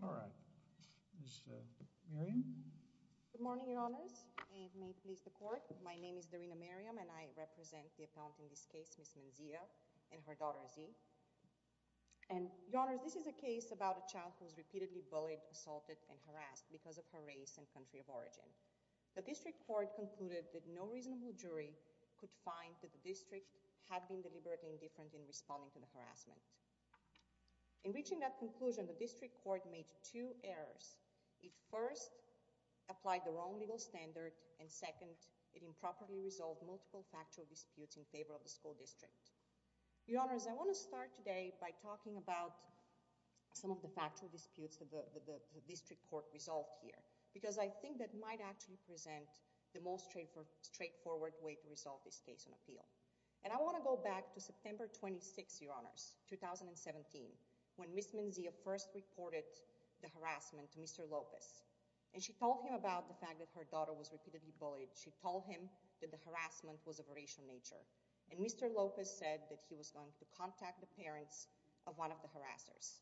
All right. Ms. Miriam? Good morning, Your Honors. May it please the Court. My name is Darina Miriam and I represent the appellant in this case, Ms. Menzia and her daughter, Zee. And, Your Honors, this is a case about a child who was repeatedly bullied, assaulted, and harassed because of her race and country of origin. The District Court concluded that no reasonable jury could find that the district had been deliberately indifferent in responding to the bullying. Reaching that conclusion, the District Court made two errors. It first applied the wrong legal standard, and second, it improperly resolved multiple factual disputes in favor of the school district. Your Honors, I want to start today by talking about some of the factual disputes that the District Court resolved here because I think that might actually present the most straightforward way to resolve this case on appeal. And I want to go back to September 26, Your Honors, 2017, when Ms. Menzia first reported the harassment to Mr. Lopez, and she told him about the fact that her daughter was repeatedly bullied. She told him that the harassment was of a racial nature, and Mr. Lopez said that he was going to contact the parents of one of the harassers.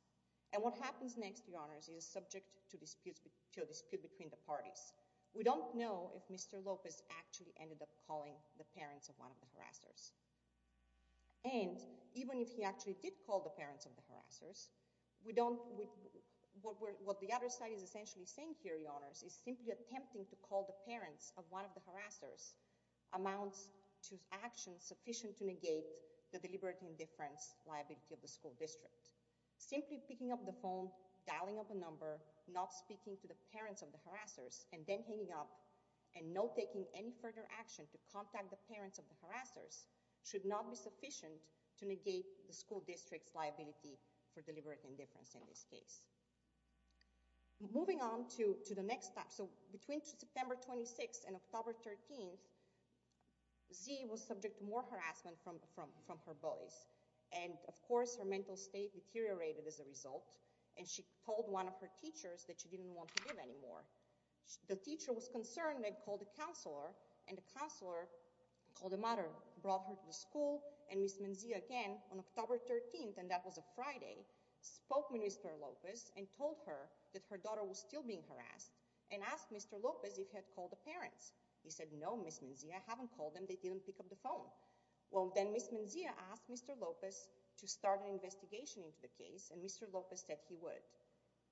And what happens next, Your Honors, is subject to disputes, to a dispute between the parties. We don't know if Mr. Lopez actually ended up calling the parents of one of the harassers. And even if he actually did call the parents of the harassers, we don't—what the other side is essentially saying here, Your Honors, is simply attempting to call the parents of one of the harassers amounts to actions sufficient to negate the deliberate indifference liability of the school district. Simply picking up the phone, dialing up a number, not speaking to the parents of the harassers, and then taking any further action to contact the parents of the harassers should not be sufficient to negate the school district's liability for deliberate indifference in this case. Moving on to the next step, so between September 26 and October 13, Zee was subject to more harassment from her bullies, and of course her mental state deteriorated as a result, and she told one of her teachers that she didn't want to give any more. The teacher was a counselor, and the counselor—called the mother—brought her to the school, and Ms. Menzia, again, on October 13, and that was a Friday, spoke with Mr. Lopez and told her that her daughter was still being harassed, and asked Mr. Lopez if he had called the parents. He said, no, Ms. Menzia, I haven't called them, they didn't pick up the phone. Well, then Ms. Menzia asked Mr. Lopez to start an investigation into the case, and Mr. Lopez said he would.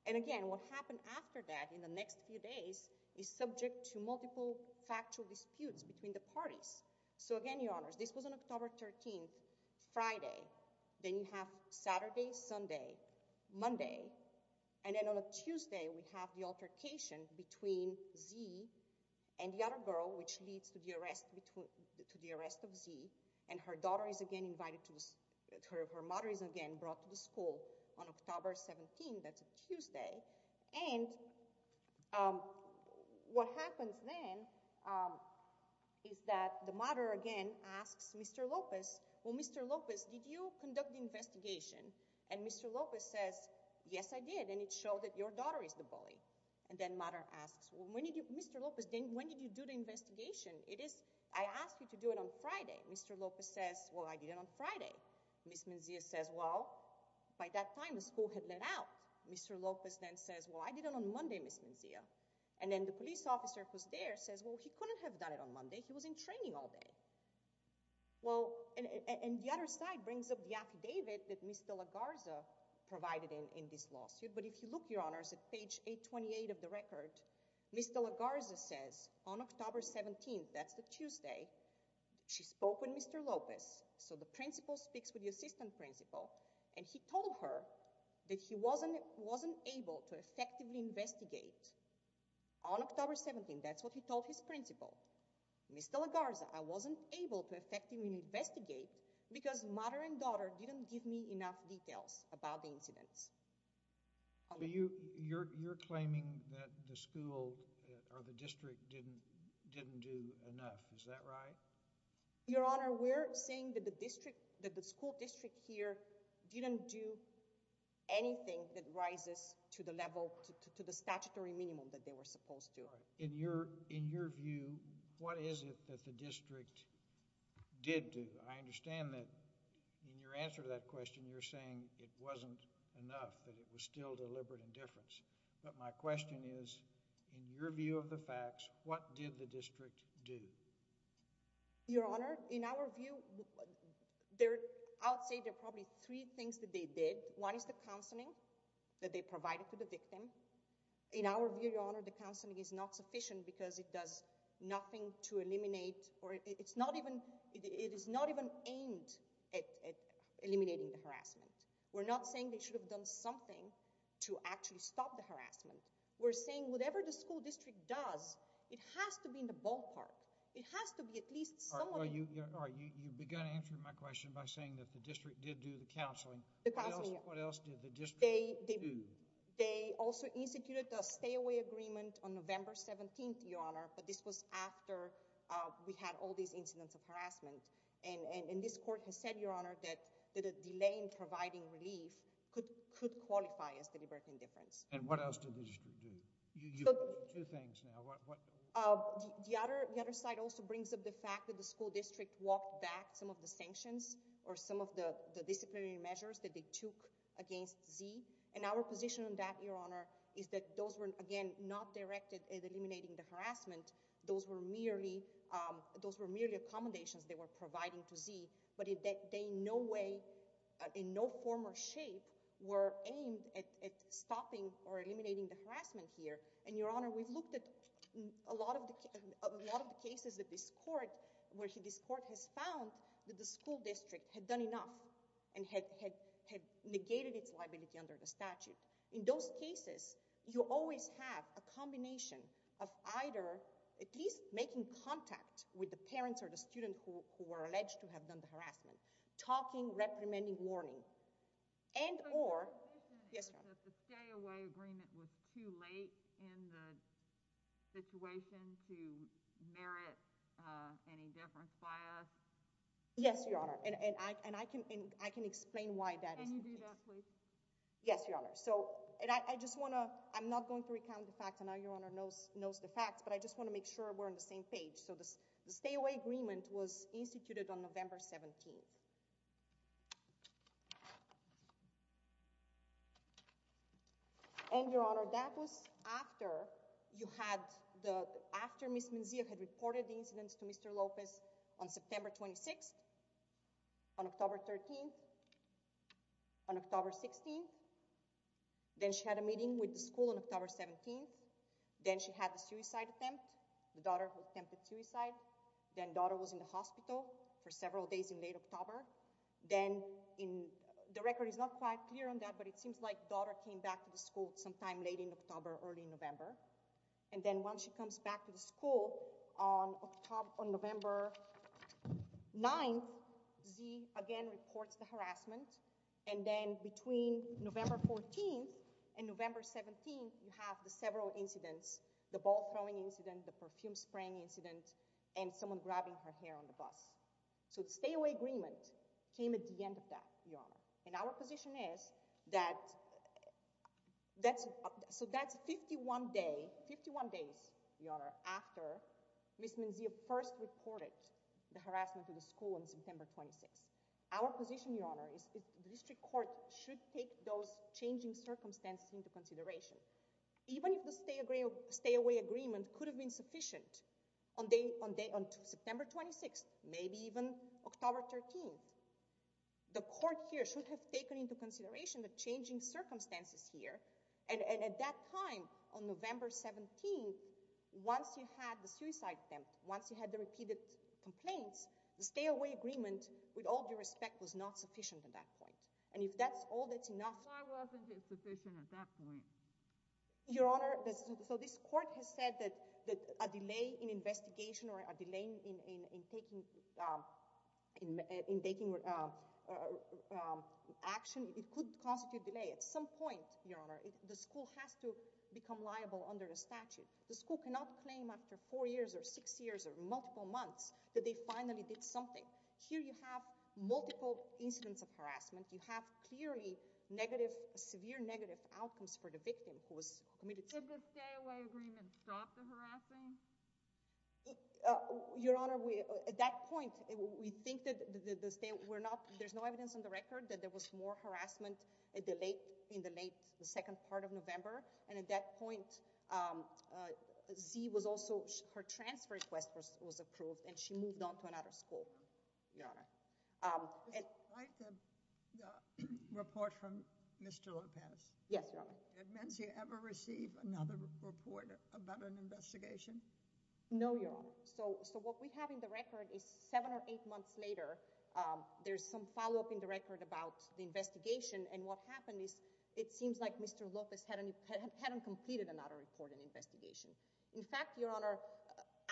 And again, what happened after that in the next few days is subject to multiple factual disputes between the parties. So again, Your Honors, this was on October 13, Friday, then you have Saturday, Sunday, Monday, and then on a Tuesday, we have the altercation between Zee and the other girl, which leads to the arrest of Zee, and her daughter is again invited to—her mother is again brought to the school on October 17, that's a Tuesday, and what happens then is that the mother again asks Mr. Lopez, well, Mr. Lopez, did you conduct the investigation? And Mr. Lopez says, yes, I did, and it showed that your daughter is the bully. And then mother asks, well, when did you—Mr. Lopez, then when did you do the investigation? It is—I asked you to do it on Friday. Mr. Lopez says, well, I did it on Friday. Ms. Menzia says, well, by that time, the school had let out. Mr. Lopez then says, well, I did it on Monday, Ms. Menzia, and then the police officer who's there says, well, he couldn't have done it on Monday. He was in training all day. Well, and the other side brings up the affidavit that Ms. De La Garza provided in this lawsuit, but if you look, Your Honors, at page 828 of the record, Ms. De La Garza says on October 17, that's the Tuesday, she spoke with Mr. Lopez, so the principal speaks with the assistant principal, and he told her that he wasn't—wasn't able to effectively investigate. On October 17, that's what he told his principal. Ms. De La Garza, I wasn't able to effectively investigate because mother and daughter didn't give me enough details about the incidents. So you—you're—you're claiming that the school or the district didn't—didn't do enough. Is that right? Your Honor, we're saying that the district—that the school district here didn't do anything that rises to the level—to the statutory minimum that they were supposed to. In your—in your view, what is it that the district did do? I understand that in your answer to that question, you're saying it wasn't enough, that it was still deliberate indifference, but my question is, in your view of the facts, what did the district do? Your Honor, in our view, there—I would say there are probably three things that they did. One is the counseling that they provided to the victim. In our view, Your Honor, the counseling is not sufficient because it does nothing to eliminate or it's not even—it is not even aimed at eliminating the harassment. We're not saying they should have done something to actually stop the harassment. We're saying whatever the school district does, it has to be in the ballpark. It has to be at least someone— All right, you—all right, you—you began answering my question by saying that the district did do the counseling. The counseling, yeah. What else—what else did the district do? They—they also instituted a stay-away agreement on November 17th, Your Honor, but this was after we had all these incidents of harassment, and—and—and this court has said, Your Honor, that—that a delay in providing relief could—could qualify as a libertine indifference. And what else did the district do? You—you—two things now. The other—the other side also brings up the fact that the school district walked back some of the sanctions or some of the disciplinary measures that they took against Zee, and our position on that, Your Honor, is that those were, again, not directed at eliminating the harassment. Those were merely—those were merely accommodations they were providing to Zee, but they in no way, in no form or shape, were aimed at—at stopping or eliminating the harassment here. And, Your Honor, we've looked at a lot of the—a lot of the cases that this court—where this court has found that the school district had done enough and had—had—had negated its liability under the statute. In those cases, you always have a combination of either at least making contact with the school district, talking, reprimanding, warning, and—or, yes, Your Honor? The stay-away agreement was too late in the situation to merit any indifference by us? Yes, Your Honor, and—and I—and I can—and I can explain why that is. Can you do that, please? Yes, Your Honor. So, and I—I just want to—I'm not going to recount the facts. I know Your Honor knows—knows the facts, but I just want to make sure we're on the same page. So, the stay-away agreement was And, Your Honor, that was after you had the—after Ms. Menzia had reported the incidents to Mr. Lopez on September 26th, on October 13th, on October 16th, then she had a meeting with the school on October 17th, then she had the suicide attempt, the daughter attempted suicide, then daughter was in the hospital for Then, in—the record is not quite clear on that, but it seems like daughter came back to the school sometime late in October, early November, and then once she comes back to the school on October—on November 9th, Z, again, reports the harassment, and then between November 14th and November 17th, you have the several incidents—the ball-throwing incident, the perfume-spraying incident, and someone grabbing her hair on the bus. So, the stay-away agreement came at the end of that, Your Honor, and our position is that—that's—so that's 51 days—51 days, Your Honor, after Ms. Menzia first reported the harassment to the school on September 26th. Our position, Your Honor, is the district court should take those changing circumstances into consideration. Even if the stay-away agreement could have been sufficient on day—on day—on September 26th, maybe even October 13th, the court here should have taken into consideration the changing circumstances here, and—and at that time, on November 17th, once you had the suicide attempt, once you had the repeated complaints, the stay-away agreement, with all due respect, was not sufficient at that point, and if that's all that's enough— Why wasn't it sufficient at that point? Your Honor, so this court has said that—that a delay in investigation or a delay in—in—in taking—in taking action, it could constitute delay. At some point, Your Honor, the school has to become liable under the statute. The school cannot claim after four years or six years or multiple months that they finally did something. Here you have multiple incidents of harassment. You have clearly negative—severe negative outcomes for the victim who was— Did the stay-away agreement stop the harassing? Your Honor, we—at that point, we think that the—the stay—we're not—there's no evidence on the record that there was more harassment at the late—in the late—the second part of November, and at that point, Z was also—her transfer request was—was approved, and she moved on to another school, Your Honor. Despite the—the report from Mr. Lopez— Yes, Your Honor. Did Menzie ever receive another report about an investigation? No, Your Honor. So—so what we have in the record is seven or eight months later, there's some follow-up in the record about the investigation, and what happened is it seems like Mr. Lopez hadn't—hadn't completed another report and investigation. In fact, Your Honor,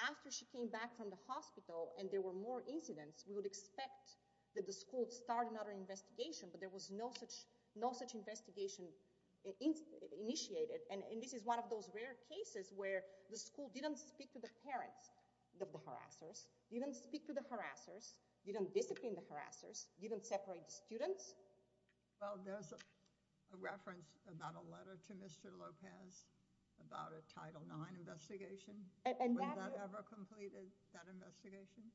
after she came back from the hospital and there were more incidents, we would expect that the school start another investigation, but there was no such—no such investigation initiated, and this is one of those rare cases where the school didn't speak to the parents of the harassers, didn't speak to the harassers, didn't discipline the harassers, didn't separate the students. Well, there's a reference about a letter to Mr. Lopez about a Title IX investigation. And that— When that ever completed, that investigation?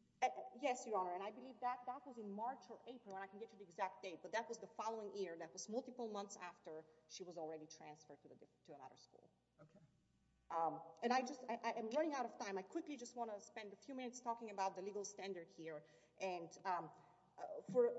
Yes, Your Honor, and I believe that—that was in March or April, and I can get you the exact date, but that was the following year. That was multiple months after she was already transferred to the—to another school. Okay. And I just—I—I am running out of time. I quickly just want to spend a few minutes talking about the legal standard here, and for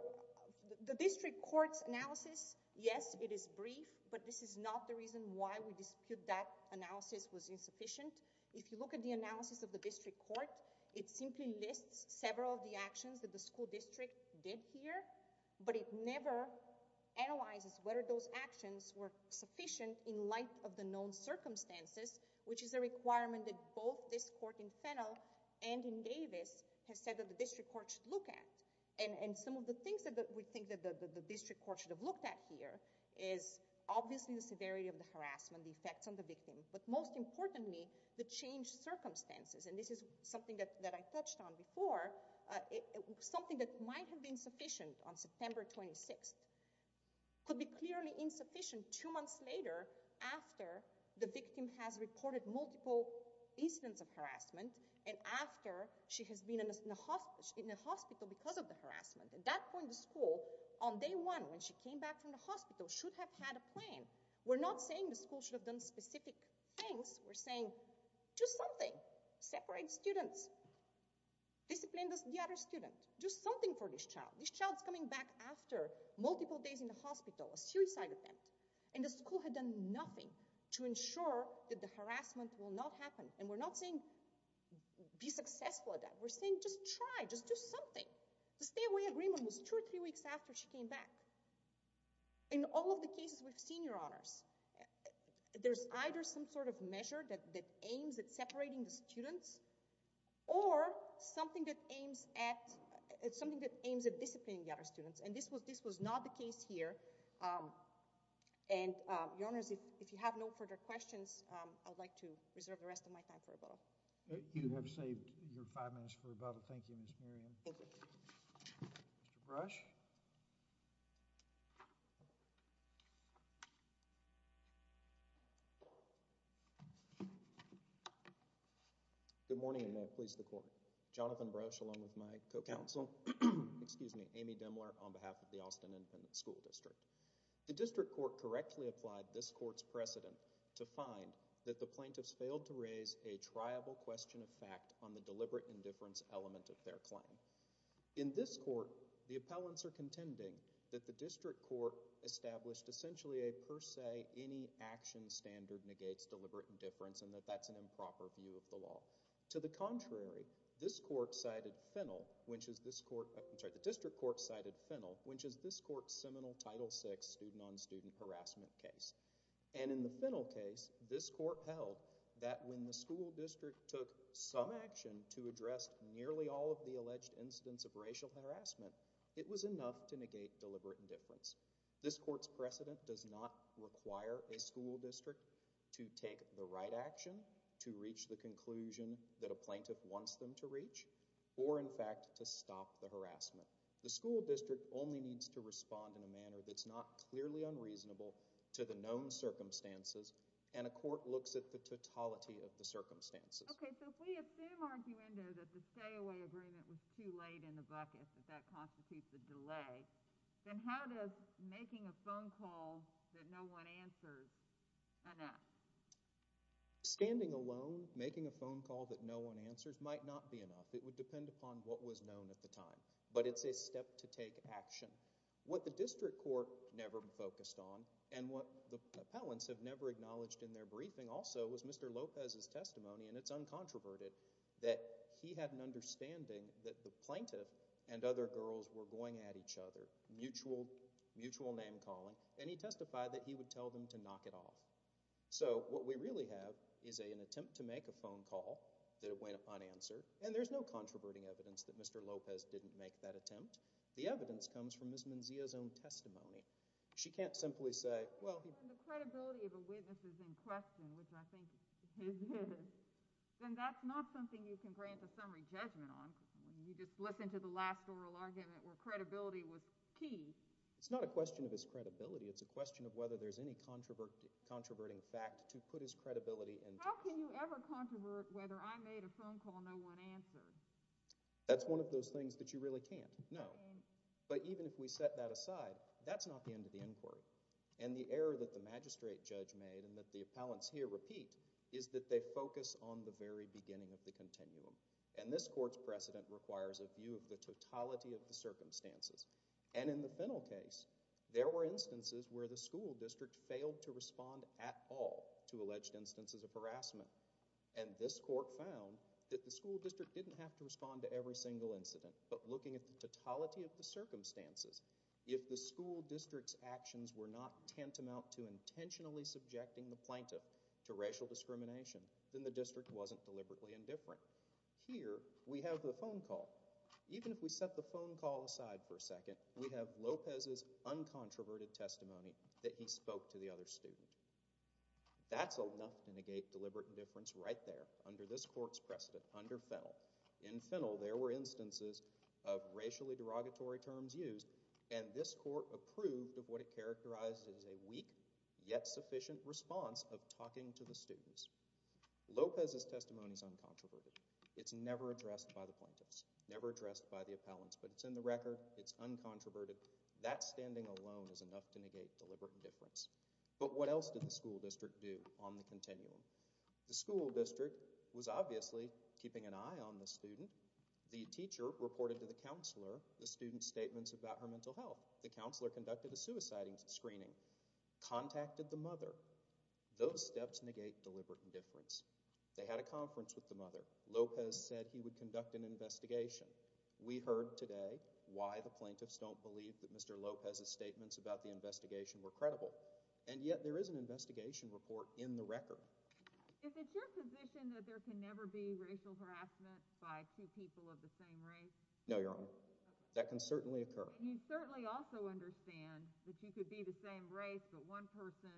the district court's analysis, yes, it is brief, but this is not the reason why we dispute that it is sufficient. If you look at the analysis of the district court, it simply lists several of the actions that the school district did here, but it never analyzes whether those actions were sufficient in light of the known circumstances, which is a requirement that both this court in Fennell and in Davis has said that the district court should look at. And—and some of the things that we think that the district court should have looked at here is obviously the severity of the harassment, the effects on the victim, but most importantly, the changed circumstances, and this is something that—that I touched on before, something that might have been sufficient on September 26th could be clearly insufficient two months later after the victim has reported multiple incidents of harassment and after she has been in the hospital because of the harassment. At that point, the school, on day one when she came back from the hospital, should have had a plan. We're not saying the school should have done specific things. We're saying do something. Separate students. Discipline the other student. Do something for this child. This child's coming back after multiple days in the hospital, a suicide attempt, and the school had done nothing to ensure that the harassment will not happen, and we're not saying be successful at that. We're saying just try, just do something. The stay-away agreement was two or three weeks after she came back. In all of the cases, there's either some sort of measure that aims at separating the students or something that aims at—something that aims at disciplining the other students, and this was—this was not the case here, and, Your Honors, if you have no further questions, I'd like to reserve the rest of my time for rebuttal. You have saved your five minutes for rebuttal. Thank you, Ms. Miriam. Thank you. Mr. Brush? Good morning, and may it please the Court. Jonathan Brush, along with my co-counsel—excuse me, Amy Dimler, on behalf of the Austin Independent School District. The district court correctly applied this court's precedent to find that the plaintiffs failed to raise a triable question of fact on the deliberate indifference element of their claim. In this court, the appellants are contending that the district court established essentially a per se, any action standard negates deliberate indifference and that that's an improper view of the law. To the contrary, this court cited Fennell, which is this court—I'm sorry, the district court cited Fennell, which is this court's seminal Title VI student-on-student harassment case, and in the Fennell case, this court held that when the school district took some action to address nearly all of the alleged incidents of racial harassment, it was enough to take the right action, to reach the conclusion that a plaintiff wants them to reach, or in fact to stop the harassment. The school district only needs to respond in a manner that's not clearly unreasonable to the known circumstances, and a court looks at the totality of the circumstances. Okay, so if we assume, arguendo, that the stay-away agreement was too late in the bucket, that that constitutes a delay, then how does making a phone call that no one answers enough? Standing alone, making a phone call that no one answers might not be enough. It would depend upon what was known at the time, but it's a step to take action. What the district court never focused on, and what the appellants have never acknowledged in their briefing also, was Mr. Lopez's testimony, and it's uncontroverted, that he had an understanding that the plaintiff and other testified that he would tell them to knock it off. So what we really have is an attempt to make a phone call that went unanswered, and there's no controverting evidence that Mr. Lopez didn't make that attempt. The evidence comes from Ms. Menzia's own testimony. She can't simply say, well... If the credibility of a witness is in question, which I think it is, then that's not something you can grant a summary judgment on. You just listen to the last oral argument where credibility was key. It's not a question of his credibility. It's a question of whether there's any controverting fact to put his credibility into. How can you ever controvert whether I made a phone call no one answered? That's one of those things that you really can't. No. But even if we set that aside, that's not the end of the inquiry. And the error that the magistrate judge made, and that the appellants here repeat, is that they focus on the very beginning of the continuum. And this court's precedent requires a view of the totality of the circumstances. And in the Fennell case, there were instances where the school district failed to respond at all to alleged instances of harassment. And this court found that the school district didn't have to respond to every single incident. But looking at the totality of the circumstances, if the school district's actions were not tantamount to intentionally subjecting the plaintiff to racial discrimination, then the district wasn't deliberately indifferent. Here, we have the phone call. Even if we set the phone call aside for a second, we have Lopez's uncontroverted testimony that he spoke to the other student. That's enough to negate deliberate indifference right there, under this court's precedent, under Fennell. In Fennell, there were instances of racially derogatory terms used, and this court approved of what it characterized as a weak yet sufficient response of talking to the students. Lopez's testimony is uncontroverted. It's never addressed by the plaintiffs, never addressed by the appellants, but it's in the record, it's uncontroverted. That standing alone is enough to negate deliberate indifference. But what else did the school district do on the continuum? The school district was obviously keeping an eye on the student. The teacher reported to the counselor the student's statements about her mental health. The counselor conducted a suiciding screening, contacted the mother. Those steps negate deliberate indifference. They had a conference with the mother. Lopez said he would conduct an investigation. We heard today why the plaintiffs don't believe that Mr. Lopez's statements about the investigation were credible. And yet there is an investigation report in the record. Is it your position that there can never be racial harassment by two people of the same race? No, Your Honor. That can certainly occur. You certainly also understand that you could be the same race, but one person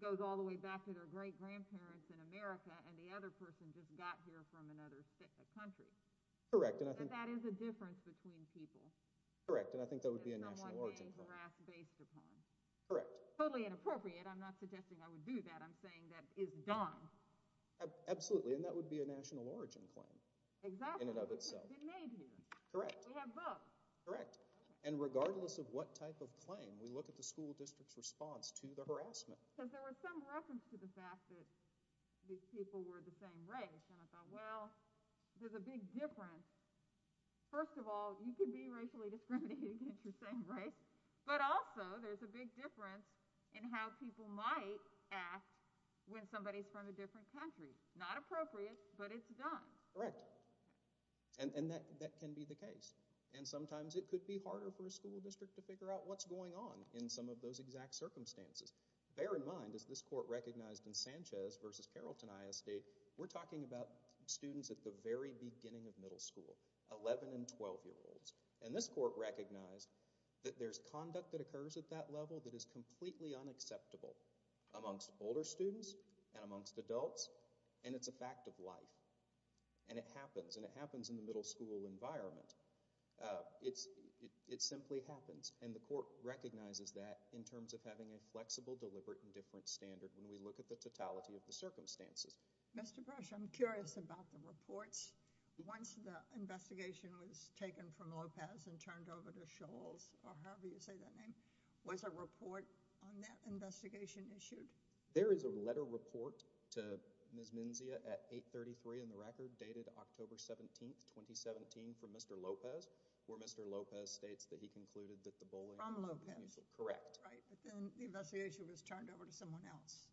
goes all the way back to their great-grandparents in America and the other person just got here from another country. Correct. And that is a difference between people. Correct, and I think that would be a national origin claim. Someone being harassed based upon. Correct. Totally inappropriate. I'm not suggesting I would do that. I'm saying that is done. Absolutely, and that would be a national origin claim in and of itself. Exactly. It's been made here. Correct. We have books. Correct. And regardless of what type of claim, we look at the school district's response to the harassment. Because there was some reference to the fact that these people were the same race, and I thought, well, there's a big difference. First of all, you can be racially discriminated against your same race, but also there's a big difference in how people might act when somebody's from a different country. Not appropriate, but it's done. Correct. And that can be the case. And sometimes it could be harder for a school district to figure out what's going on in some of those exact circumstances. Bear in mind, as this court recognized in Sanchez v. Carrollton ISD, we're talking about students at the very beginning of middle school, 11- and 12-year-olds. And this court recognized that there's conduct that occurs at that level that is completely unacceptable amongst older students and amongst adults, and it's a fact of life. And it happens, and it happens in the middle school environment. It simply happens, and the court recognizes that in terms of having a flexible, deliberate, and different standard when we look at the totality of the circumstances. Mr. Brush, I'm curious about the reports. Once the investigation was taken from Lopez and turned over to Scholes or however you say that name, was a report on that investigation issued? There is a letter report to Ms. Menzia at 833 in the record dated October 17, 2017, from Mr. Lopez, where Mr. Lopez states that he concluded that the bullying... From Lopez. Correct. Right, but then the investigation was turned over to someone else.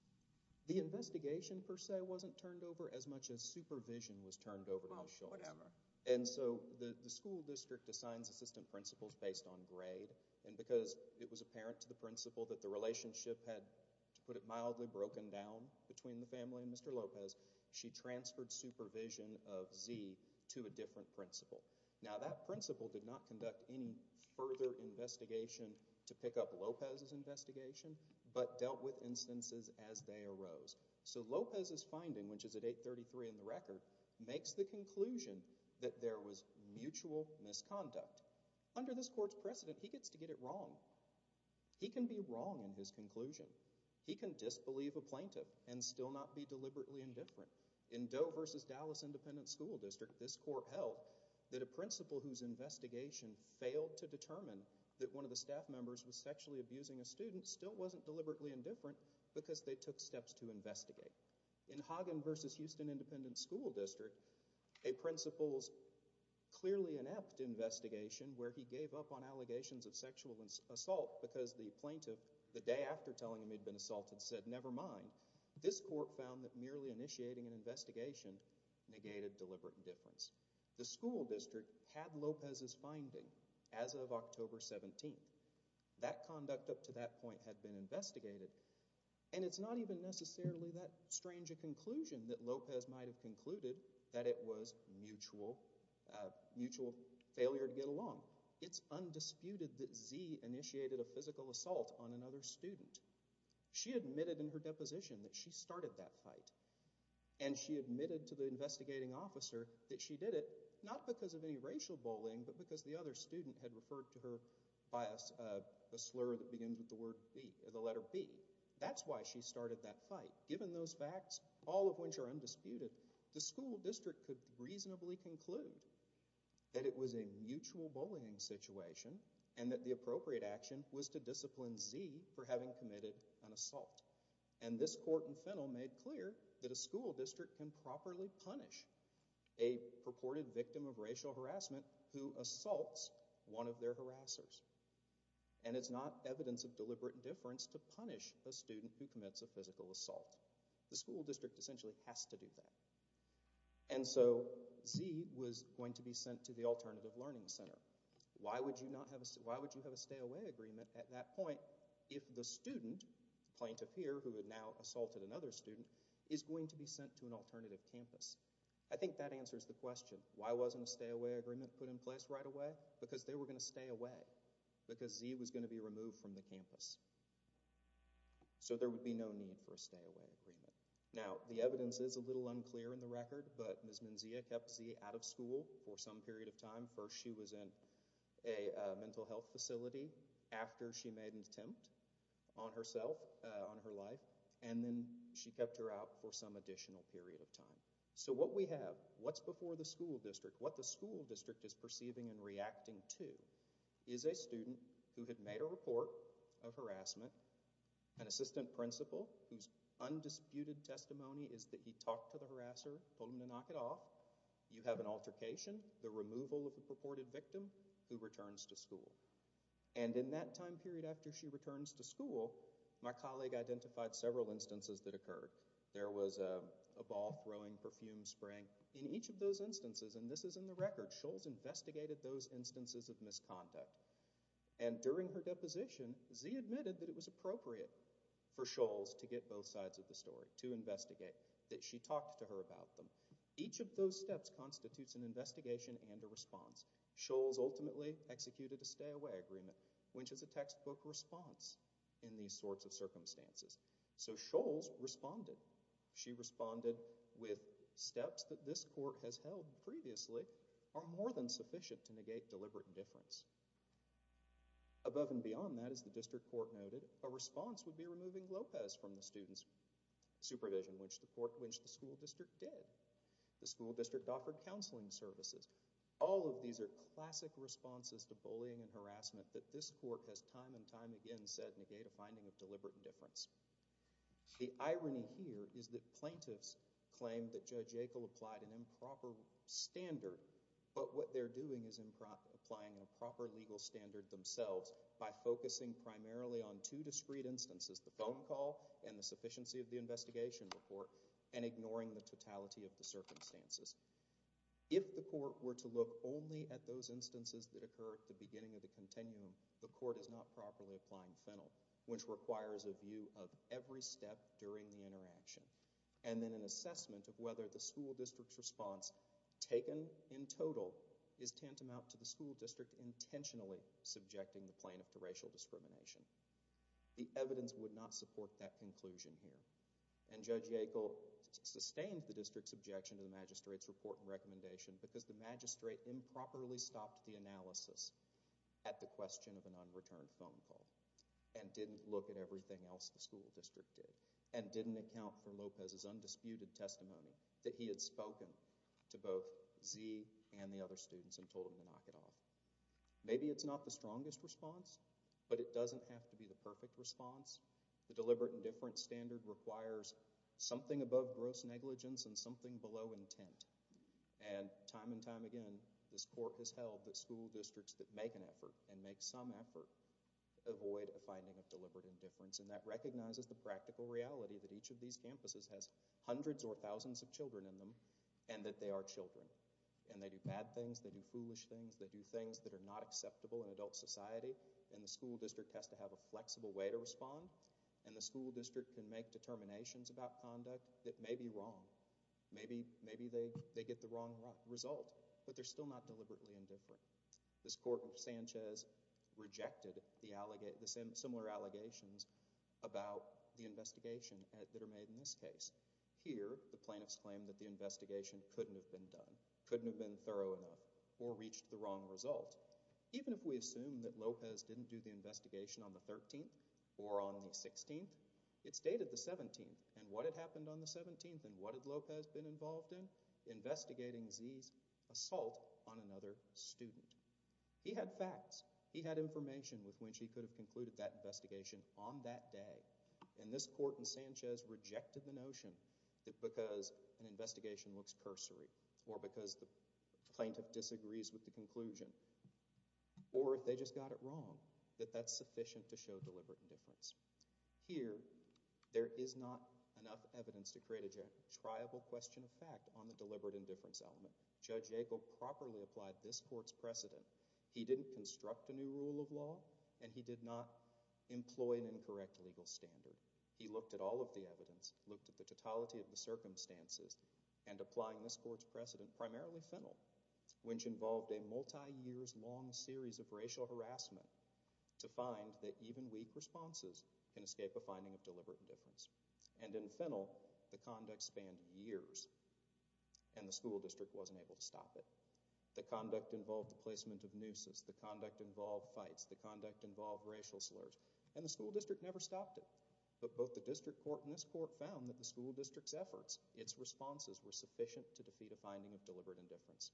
The investigation, per se, wasn't turned over as much as supervision was turned over to Scholes. Well, whatever. And so the school district assigns assistant principals based on grade, and because it was apparent to the principal that the relationship had, to put it mildly, broken down between the family and Mr. Lopez, she transferred supervision of Z to a different principal. Now, that principal did not conduct any further investigation to pick up Lopez's investigation, but dealt with instances as they arose. So Lopez's finding, which is at 833 in the record, makes the conclusion that there was mutual misconduct. Under this court's precedent, he gets to get it wrong. He can be wrong in his conclusion. He can disbelieve a plaintiff and still not be deliberately indifferent. In Doe v. Dallas Independent School District, this court held that a principal whose investigation failed to determine that one of the staff members was sexually abusing a student still wasn't deliberately indifferent because they took steps to investigate. In Hagen v. Houston Independent School District, a principal's clearly inept investigation, where he gave up on allegations of sexual assault because the plaintiff, the day after telling him he'd been assaulted, said, never mind. This court found that merely initiating an investigation negated deliberate indifference. The school district had Lopez's finding as of October 17th. That conduct up to that point had been investigated, and it's not even necessarily that strange a conclusion that Lopez might have concluded that it was mutual failure to get along. It's undisputed that Z initiated a physical assault on another student. She admitted in her deposition that she started that fight, and she admitted to the investigating officer that she did it not because of any racial bullying but because the other student had referred to her by a slur that begins with the letter B. That's why she started that fight. Given those facts, all of which are undisputed, the school district could reasonably conclude that it was a mutual bullying situation and that the appropriate action was to discipline Z for having committed an assault. And this court in Fennell made clear that a school district can properly punish a purported victim of racial harassment who assaults one of their harassers. And it's not evidence of deliberate indifference to punish a student who commits a physical assault. The school district essentially has to do that. And so Z was going to be sent to the Alternative Learning Center. Why would you have a stay-away agreement at that point if the student, the plaintiff here, who had now assaulted another student, is going to be sent to an alternative campus? I think that answers the question. Why wasn't a stay-away agreement put in place right away? Because they were going to stay away because Z was going to be removed from the campus. So there would be no need for a stay-away agreement. Now, the evidence is a little unclear in the record, but Ms. Menzia kept Z out of school for some period of time. First, she was in a mental health facility after she made an attempt on herself, on her life, and then she kept her out for some additional period of time. So what we have, what's before the school district, what the school district is perceiving and reacting to, is a student who had made a report of harassment, an assistant principal whose undisputed testimony is that he talked to the harasser, told him to knock it off. You have an altercation, the removal of the purported victim, who returns to school. And in that time period after she returns to school, my colleague identified several instances that occurred. There was a ball throwing, perfume spraying. In each of those instances, and this is in the record, Scholz investigated those instances of misconduct. And during her deposition, Z admitted that it was appropriate for Scholz to get both sides of the story, to investigate, that she talked to her about them. Each of those steps constitutes an investigation and a response. Scholz ultimately executed a stay-away agreement, which is a textbook response in these sorts of circumstances. So Scholz responded. She responded with steps that this court has held previously are more than sufficient to negate deliberate indifference. Above and beyond that, as the district court noted, a response would be removing Lopez from the student's supervision, which the school district did. The school district offered counseling services. All of these are classic responses to bullying and harassment that this court has time and time again said negate a finding of deliberate indifference. The irony here is that plaintiffs claim that Judge Yackel applied an improper standard, but what they're doing is applying a proper legal standard themselves by focusing primarily on two discrete instances, the phone call and the sufficiency of the investigation report, and ignoring the totality of the circumstances. If the court were to look only at those instances that occur at the beginning of the continuum, the court is not properly applying Fennel, which requires a view of every step during the interaction. And then an assessment of whether the school district's response, taken in total, is tantamount to the school district intentionally subjecting the plaintiff to racial discrimination. The evidence would not support that conclusion here. And Judge Yackel sustained the district's objection to the magistrate's report and recommendation because the magistrate improperly stopped the analysis at the question of an unreturned phone call and didn't look at everything else the school district did and didn't account for Lopez's undisputed testimony that he had spoken to both Zee and the other students and told them to knock it off. Maybe it's not the strongest response, but it doesn't have to be the perfect response. The deliberate indifference standard requires something above gross negligence and something below intent. And time and time again, this court has held that school districts that make an effort and make some effort avoid a finding of deliberate indifference, and that recognizes the practical reality that each of these campuses has hundreds or thousands of children in them and that they are children. And they do bad things, they do foolish things, they do things that are not acceptable in adult society, and the school district has to have a flexible way to respond, and the school district can make determinations about conduct that may be wrong. Maybe they get the wrong result, but they're still not deliberately indifferent. This court in Sanchez rejected the similar allegations about the investigation that are made in this case. Here, the plaintiffs claim that the investigation couldn't have been done, couldn't have been thorough enough, or reached the wrong result. Even if we assume that Lopez didn't do the investigation on the 13th or on the 16th, it's dated the 17th. And what had happened on the 17th, and what had Lopez been involved in? He was investigating Z's assault on another student. He had facts. He had information with which he could have concluded that investigation on that day. And this court in Sanchez rejected the notion that because an investigation looks cursory or because the plaintiff disagrees with the conclusion, or if they just got it wrong, that that's sufficient to show deliberate indifference. Here, there is not enough evidence to create a triable question of fact on the deliberate indifference element. Judge Yackel properly applied this court's precedent. He didn't construct a new rule of law, and he did not employ an incorrect legal standard. He looked at all of the evidence, looked at the totality of the circumstances, and applying this court's precedent, primarily Fennell, which involved a multi-years-long series of racial harassment, to find that even weak responses can escape a finding of deliberate indifference. And in Fennell, the conduct spanned years, and the school district wasn't able to stop it. The conduct involved the placement of nooses. The conduct involved fights. The conduct involved racial slurs. And the school district never stopped it. But both the district court and this court found that the school district's efforts, its responses, were sufficient to defeat a finding of deliberate indifference.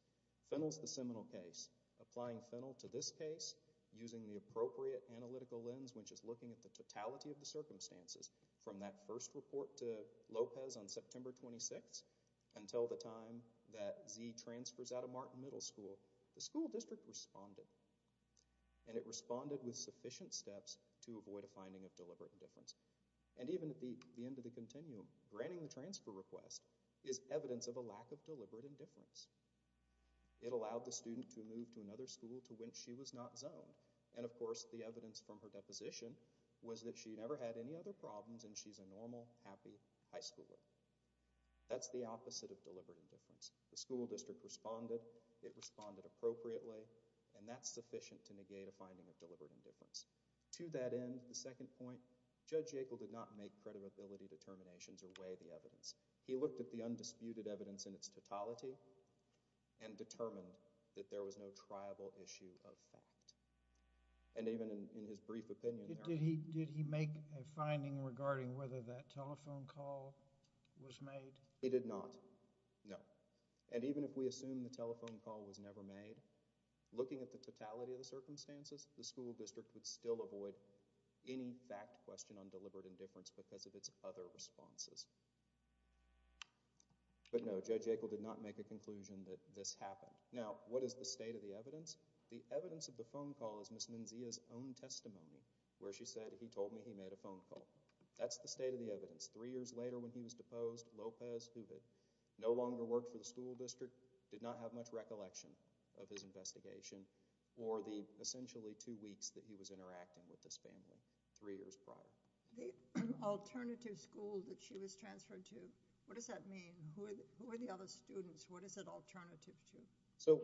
Fennell's the seminal case. Applying Fennell to this case, using the appropriate analytical lens, which is looking at the totality of the circumstances from that first report to Lopez on September 26th until the time that Z transfers out of Martin Middle School, the school district responded. And it responded with sufficient steps to avoid a finding of deliberate indifference. And even at the end of the continuum, granting the transfer request is evidence of a lack of deliberate indifference. It allowed the student to move to another school to which she was not zoned. And, of course, the evidence from her deposition was that she never had any other problems and she's a normal, happy high schooler. That's the opposite of deliberate indifference. The school district responded. It responded appropriately. And that's sufficient to negate a finding of deliberate indifference. To that end, the second point, Judge Yackel did not make credibility determinations or weigh the evidence. He looked at the undisputed evidence in its totality and determined that there was no triable issue of fact. And even in his brief opinion... Did he make a finding regarding whether that telephone call was made? He did not. No. And even if we assume the telephone call was never made, looking at the totality of the circumstances, the school district would still avoid any fact question on deliberate indifference because of its other responses. But, no, Judge Yackel did not make a conclusion that this happened. Now, what is the state of the evidence? The evidence of the phone call is Ms. Menzia's own testimony where she said, he told me he made a phone call. That's the state of the evidence. Three years later when he was deposed, Lopez, who had no longer worked for the school district, did not have much recollection of his investigation or the essentially two weeks that he was interacting with this family, three years prior. The alternative school that she was transferred to, what does that mean? Who are the other students? What is it alternative to? So,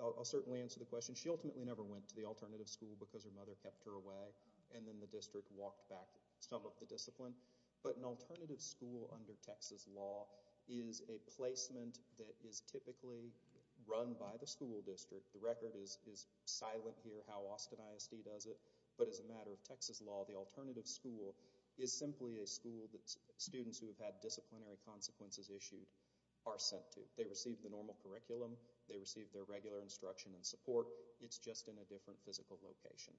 I'll certainly answer the question. She ultimately never went to the alternative school because her mother kept her away, and then the district walked back some of the discipline. But an alternative school under Texas law is a placement that is typically run by the school district. The record is silent here how Austin ISD does it, but as a matter of Texas law, the alternative school is simply a school that students who have had disciplinary consequences issued are sent to. They receive the normal curriculum. They receive their regular instruction and support. It's just in a different physical location.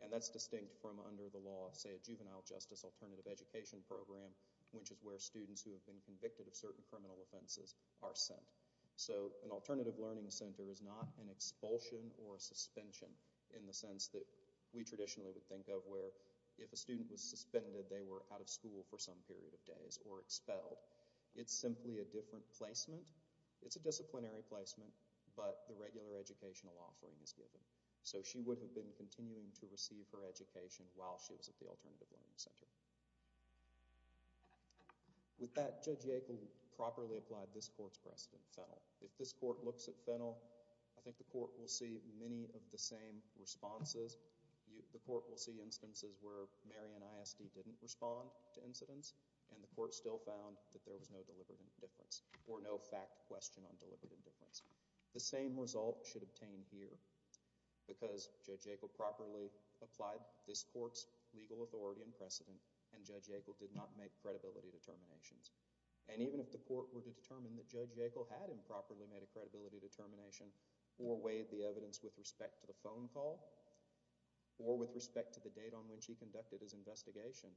And that's distinct from under the law, say a juvenile justice alternative education program, which is where students who have been convicted of certain criminal offenses are sent. So, an alternative learning center is not an expulsion or a suspension in the sense that we traditionally would think of where if a student was suspended, they were out of school for some period of days or expelled. It's simply a different placement. It's a disciplinary placement, but the regular educational offering is given. So she would have been continuing to receive her education while she was at the alternative learning center. With that, Judge Yackel properly applied this court's precedent, Fennell. If this court looks at Fennell, I think the court will see many of the same responses. The court will see instances where Marion ISD didn't respond to incidents, and the court still found that there was no deliberate indifference or no fact question on deliberate indifference. The same result should obtain here because Judge Yackel properly applied this court's legal authority and precedent, and Judge Yackel did not make credibility determinations. And even if the court were to determine that Judge Yackel had improperly made a credibility determination or weighed the evidence with respect to the phone call or with respect to the date on which he conducted his investigation,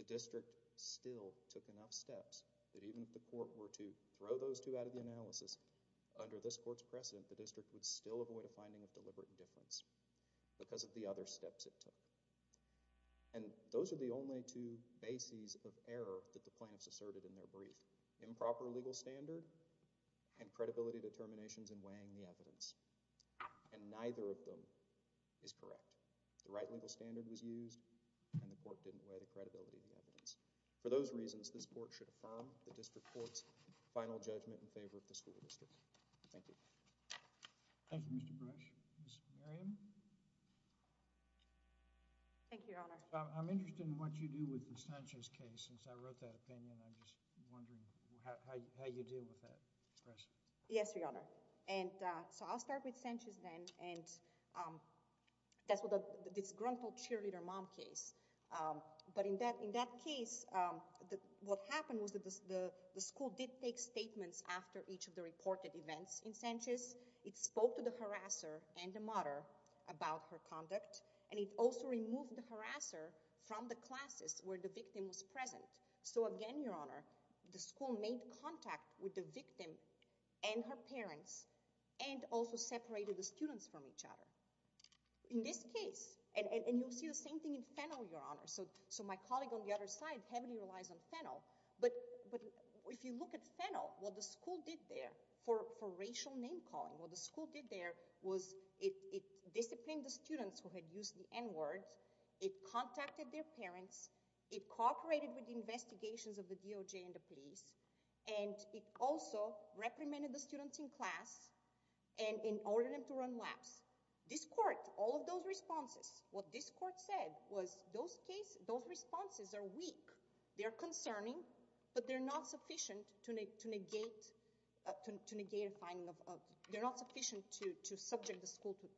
the district still took enough steps that even if the court were to throw those two out of the analysis, under this court's precedent, the district would still avoid a finding of deliberate indifference because of the other steps it took. And those are the only two bases of error that the plaintiffs asserted in their brief. Improper legal standard and credibility determinations and weighing the evidence. And neither of them is correct. The right legal standard was used and the court didn't weigh the credibility of the evidence. For those reasons, this court should affirm the district court's final judgment in favor of the school district. Thank you. Thank you, Mr. Brush. Ms. Miriam? Thank you, Your Honor. I'm interested in what you do with the Sanchez case since I wrote that opinion. I'm just wondering how you deal with that. Yes, Your Honor. And so I'll start with Sanchez then. That's what the disgruntled cheerleader mom case. But in that case, what happened was that the school did take statements after each of the reported events in Sanchez. It spoke to the harasser and the mother about her conduct and it also removed the harasser from the classes where the victim was present. So again, Your Honor, the school made contact with the victim and her parents and also separated the students from each other. In this case, and you'll see the same thing in Fennell, Your Honor, so my colleague on the other side heavily relies on Fennell, but if you look at Fennell, what the school did there for racial name-calling, what the school did there was it disciplined the students who had used the N-words, it contacted their parents, it cooperated with the investigations of the DOJ and the police, and it also reprimanded the students in class and ordered them to run laps. This court, all of those responses, what this court said was those responses are weak, they're concerning, but they're not sufficient to negate a finding of, they're not sufficient to subject the school to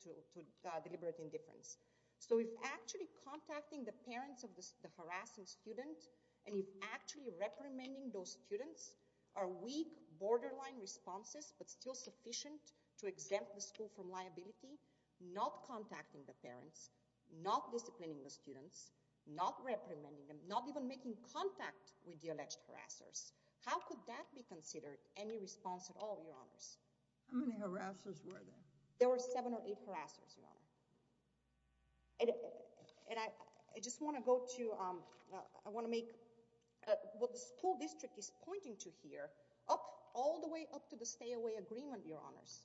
deliberate indifference. So if actually contacting the parents of the harassing student and if actually reprimanding those students are weak, borderline responses, but still sufficient to exempt the school from liability, not contacting the parents, not disciplining the students, not reprimanding them, not even making contact with the alleged harassers, how could that be considered any response at all, Your Honors? How many harassers were there? There were seven or eight harassers, Your Honor. And I just want to go to, I want to make, what the school district is pointing to here, all the way up to the stay-away agreement, Your Honors,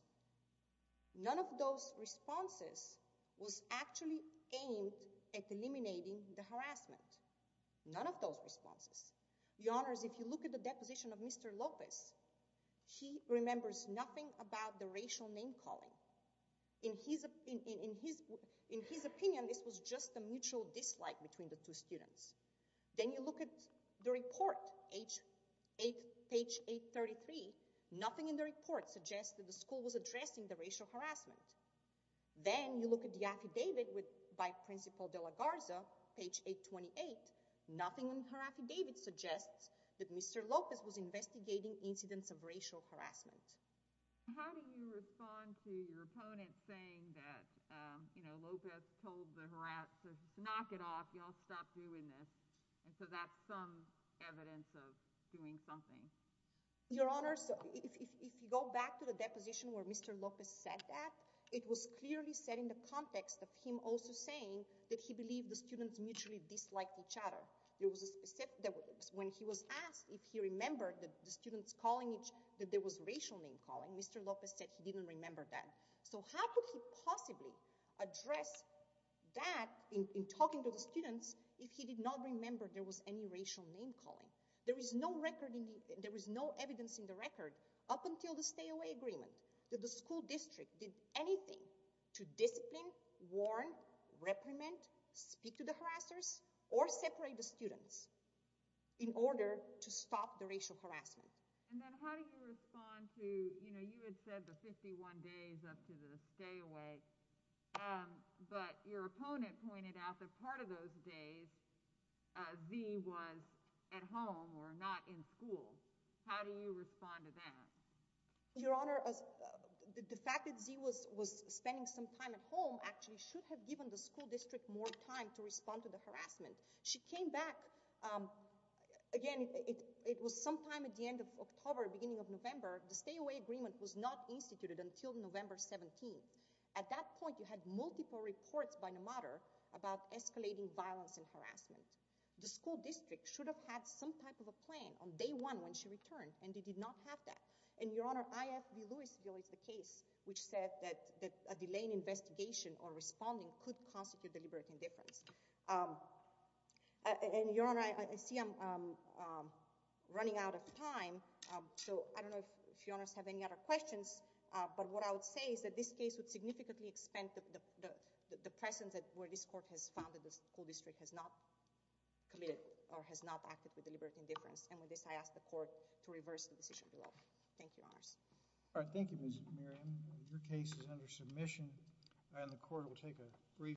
none of those responses was actually aimed at eliminating the harassment. None of those responses. Your Honors, if you look at the deposition of Mr. Lopez, he remembers nothing about the racial name-calling. In his opinion, this was just a mutual dislike between the two students. Then you look at the report, page 833, nothing in the report suggests that the school was addressing the racial harassment. Then you look at the affidavit by Principal De La Garza, page 828, nothing in her affidavit suggests that Mr. Lopez was investigating incidents of racial harassment. How do you respond to your opponent saying that, you know, Lopez told the harassers to knock it off, y'all stop doing this, and so that's some evidence of doing something? Your Honors, if you go back to the deposition where Mr. Lopez said that, it was clearly said in the context of him also saying that he believed the students mutually disliked each other. It was said that when he was asked if he remembered that the students calling each, that there was racial name-calling, Mr. Lopez said he didn't remember that. So how could he possibly address that in talking to the students if he did not remember there was any racial name-calling? There is no record, there is no evidence in the record up until the stay-away agreement that the school district did anything to discipline, warn, reprimand, speak to the harassers, or separate the students in order to stop the racial harassment. And then how do you respond to, you know, you had said the 51 days up to the stay-away, but your opponent pointed out that part of those days Zee was at home or not in school. How do you respond to that? Your Honor, the fact that Zee was spending some time at home actually should have given the school district more time to respond to the harassment. She came back, again, it was sometime at the end of October, beginning of November. The stay-away agreement was not instituted until November 17th. At that point, you had multiple reports by NMATR about escalating violence and harassment. The school district should have had some type of a plan on day one when she returned, and they did not have that. And, Your Honor, IFB-Louisville is the case which said that a delayed investigation or responding could constitute deliberate indifference. And, Your Honor, I see I'm running out of time, so I don't know if Your Honors have any other questions, but what I would say is that this case would significantly expend the presence where this court has found that the school district has not committed or has not acted with deliberate indifference. And with this, I ask the court to reverse the decision below. Thank you, Your Honors. All right, thank you, Ms. Miriam. Your case is under submission, and the court will take a brief break.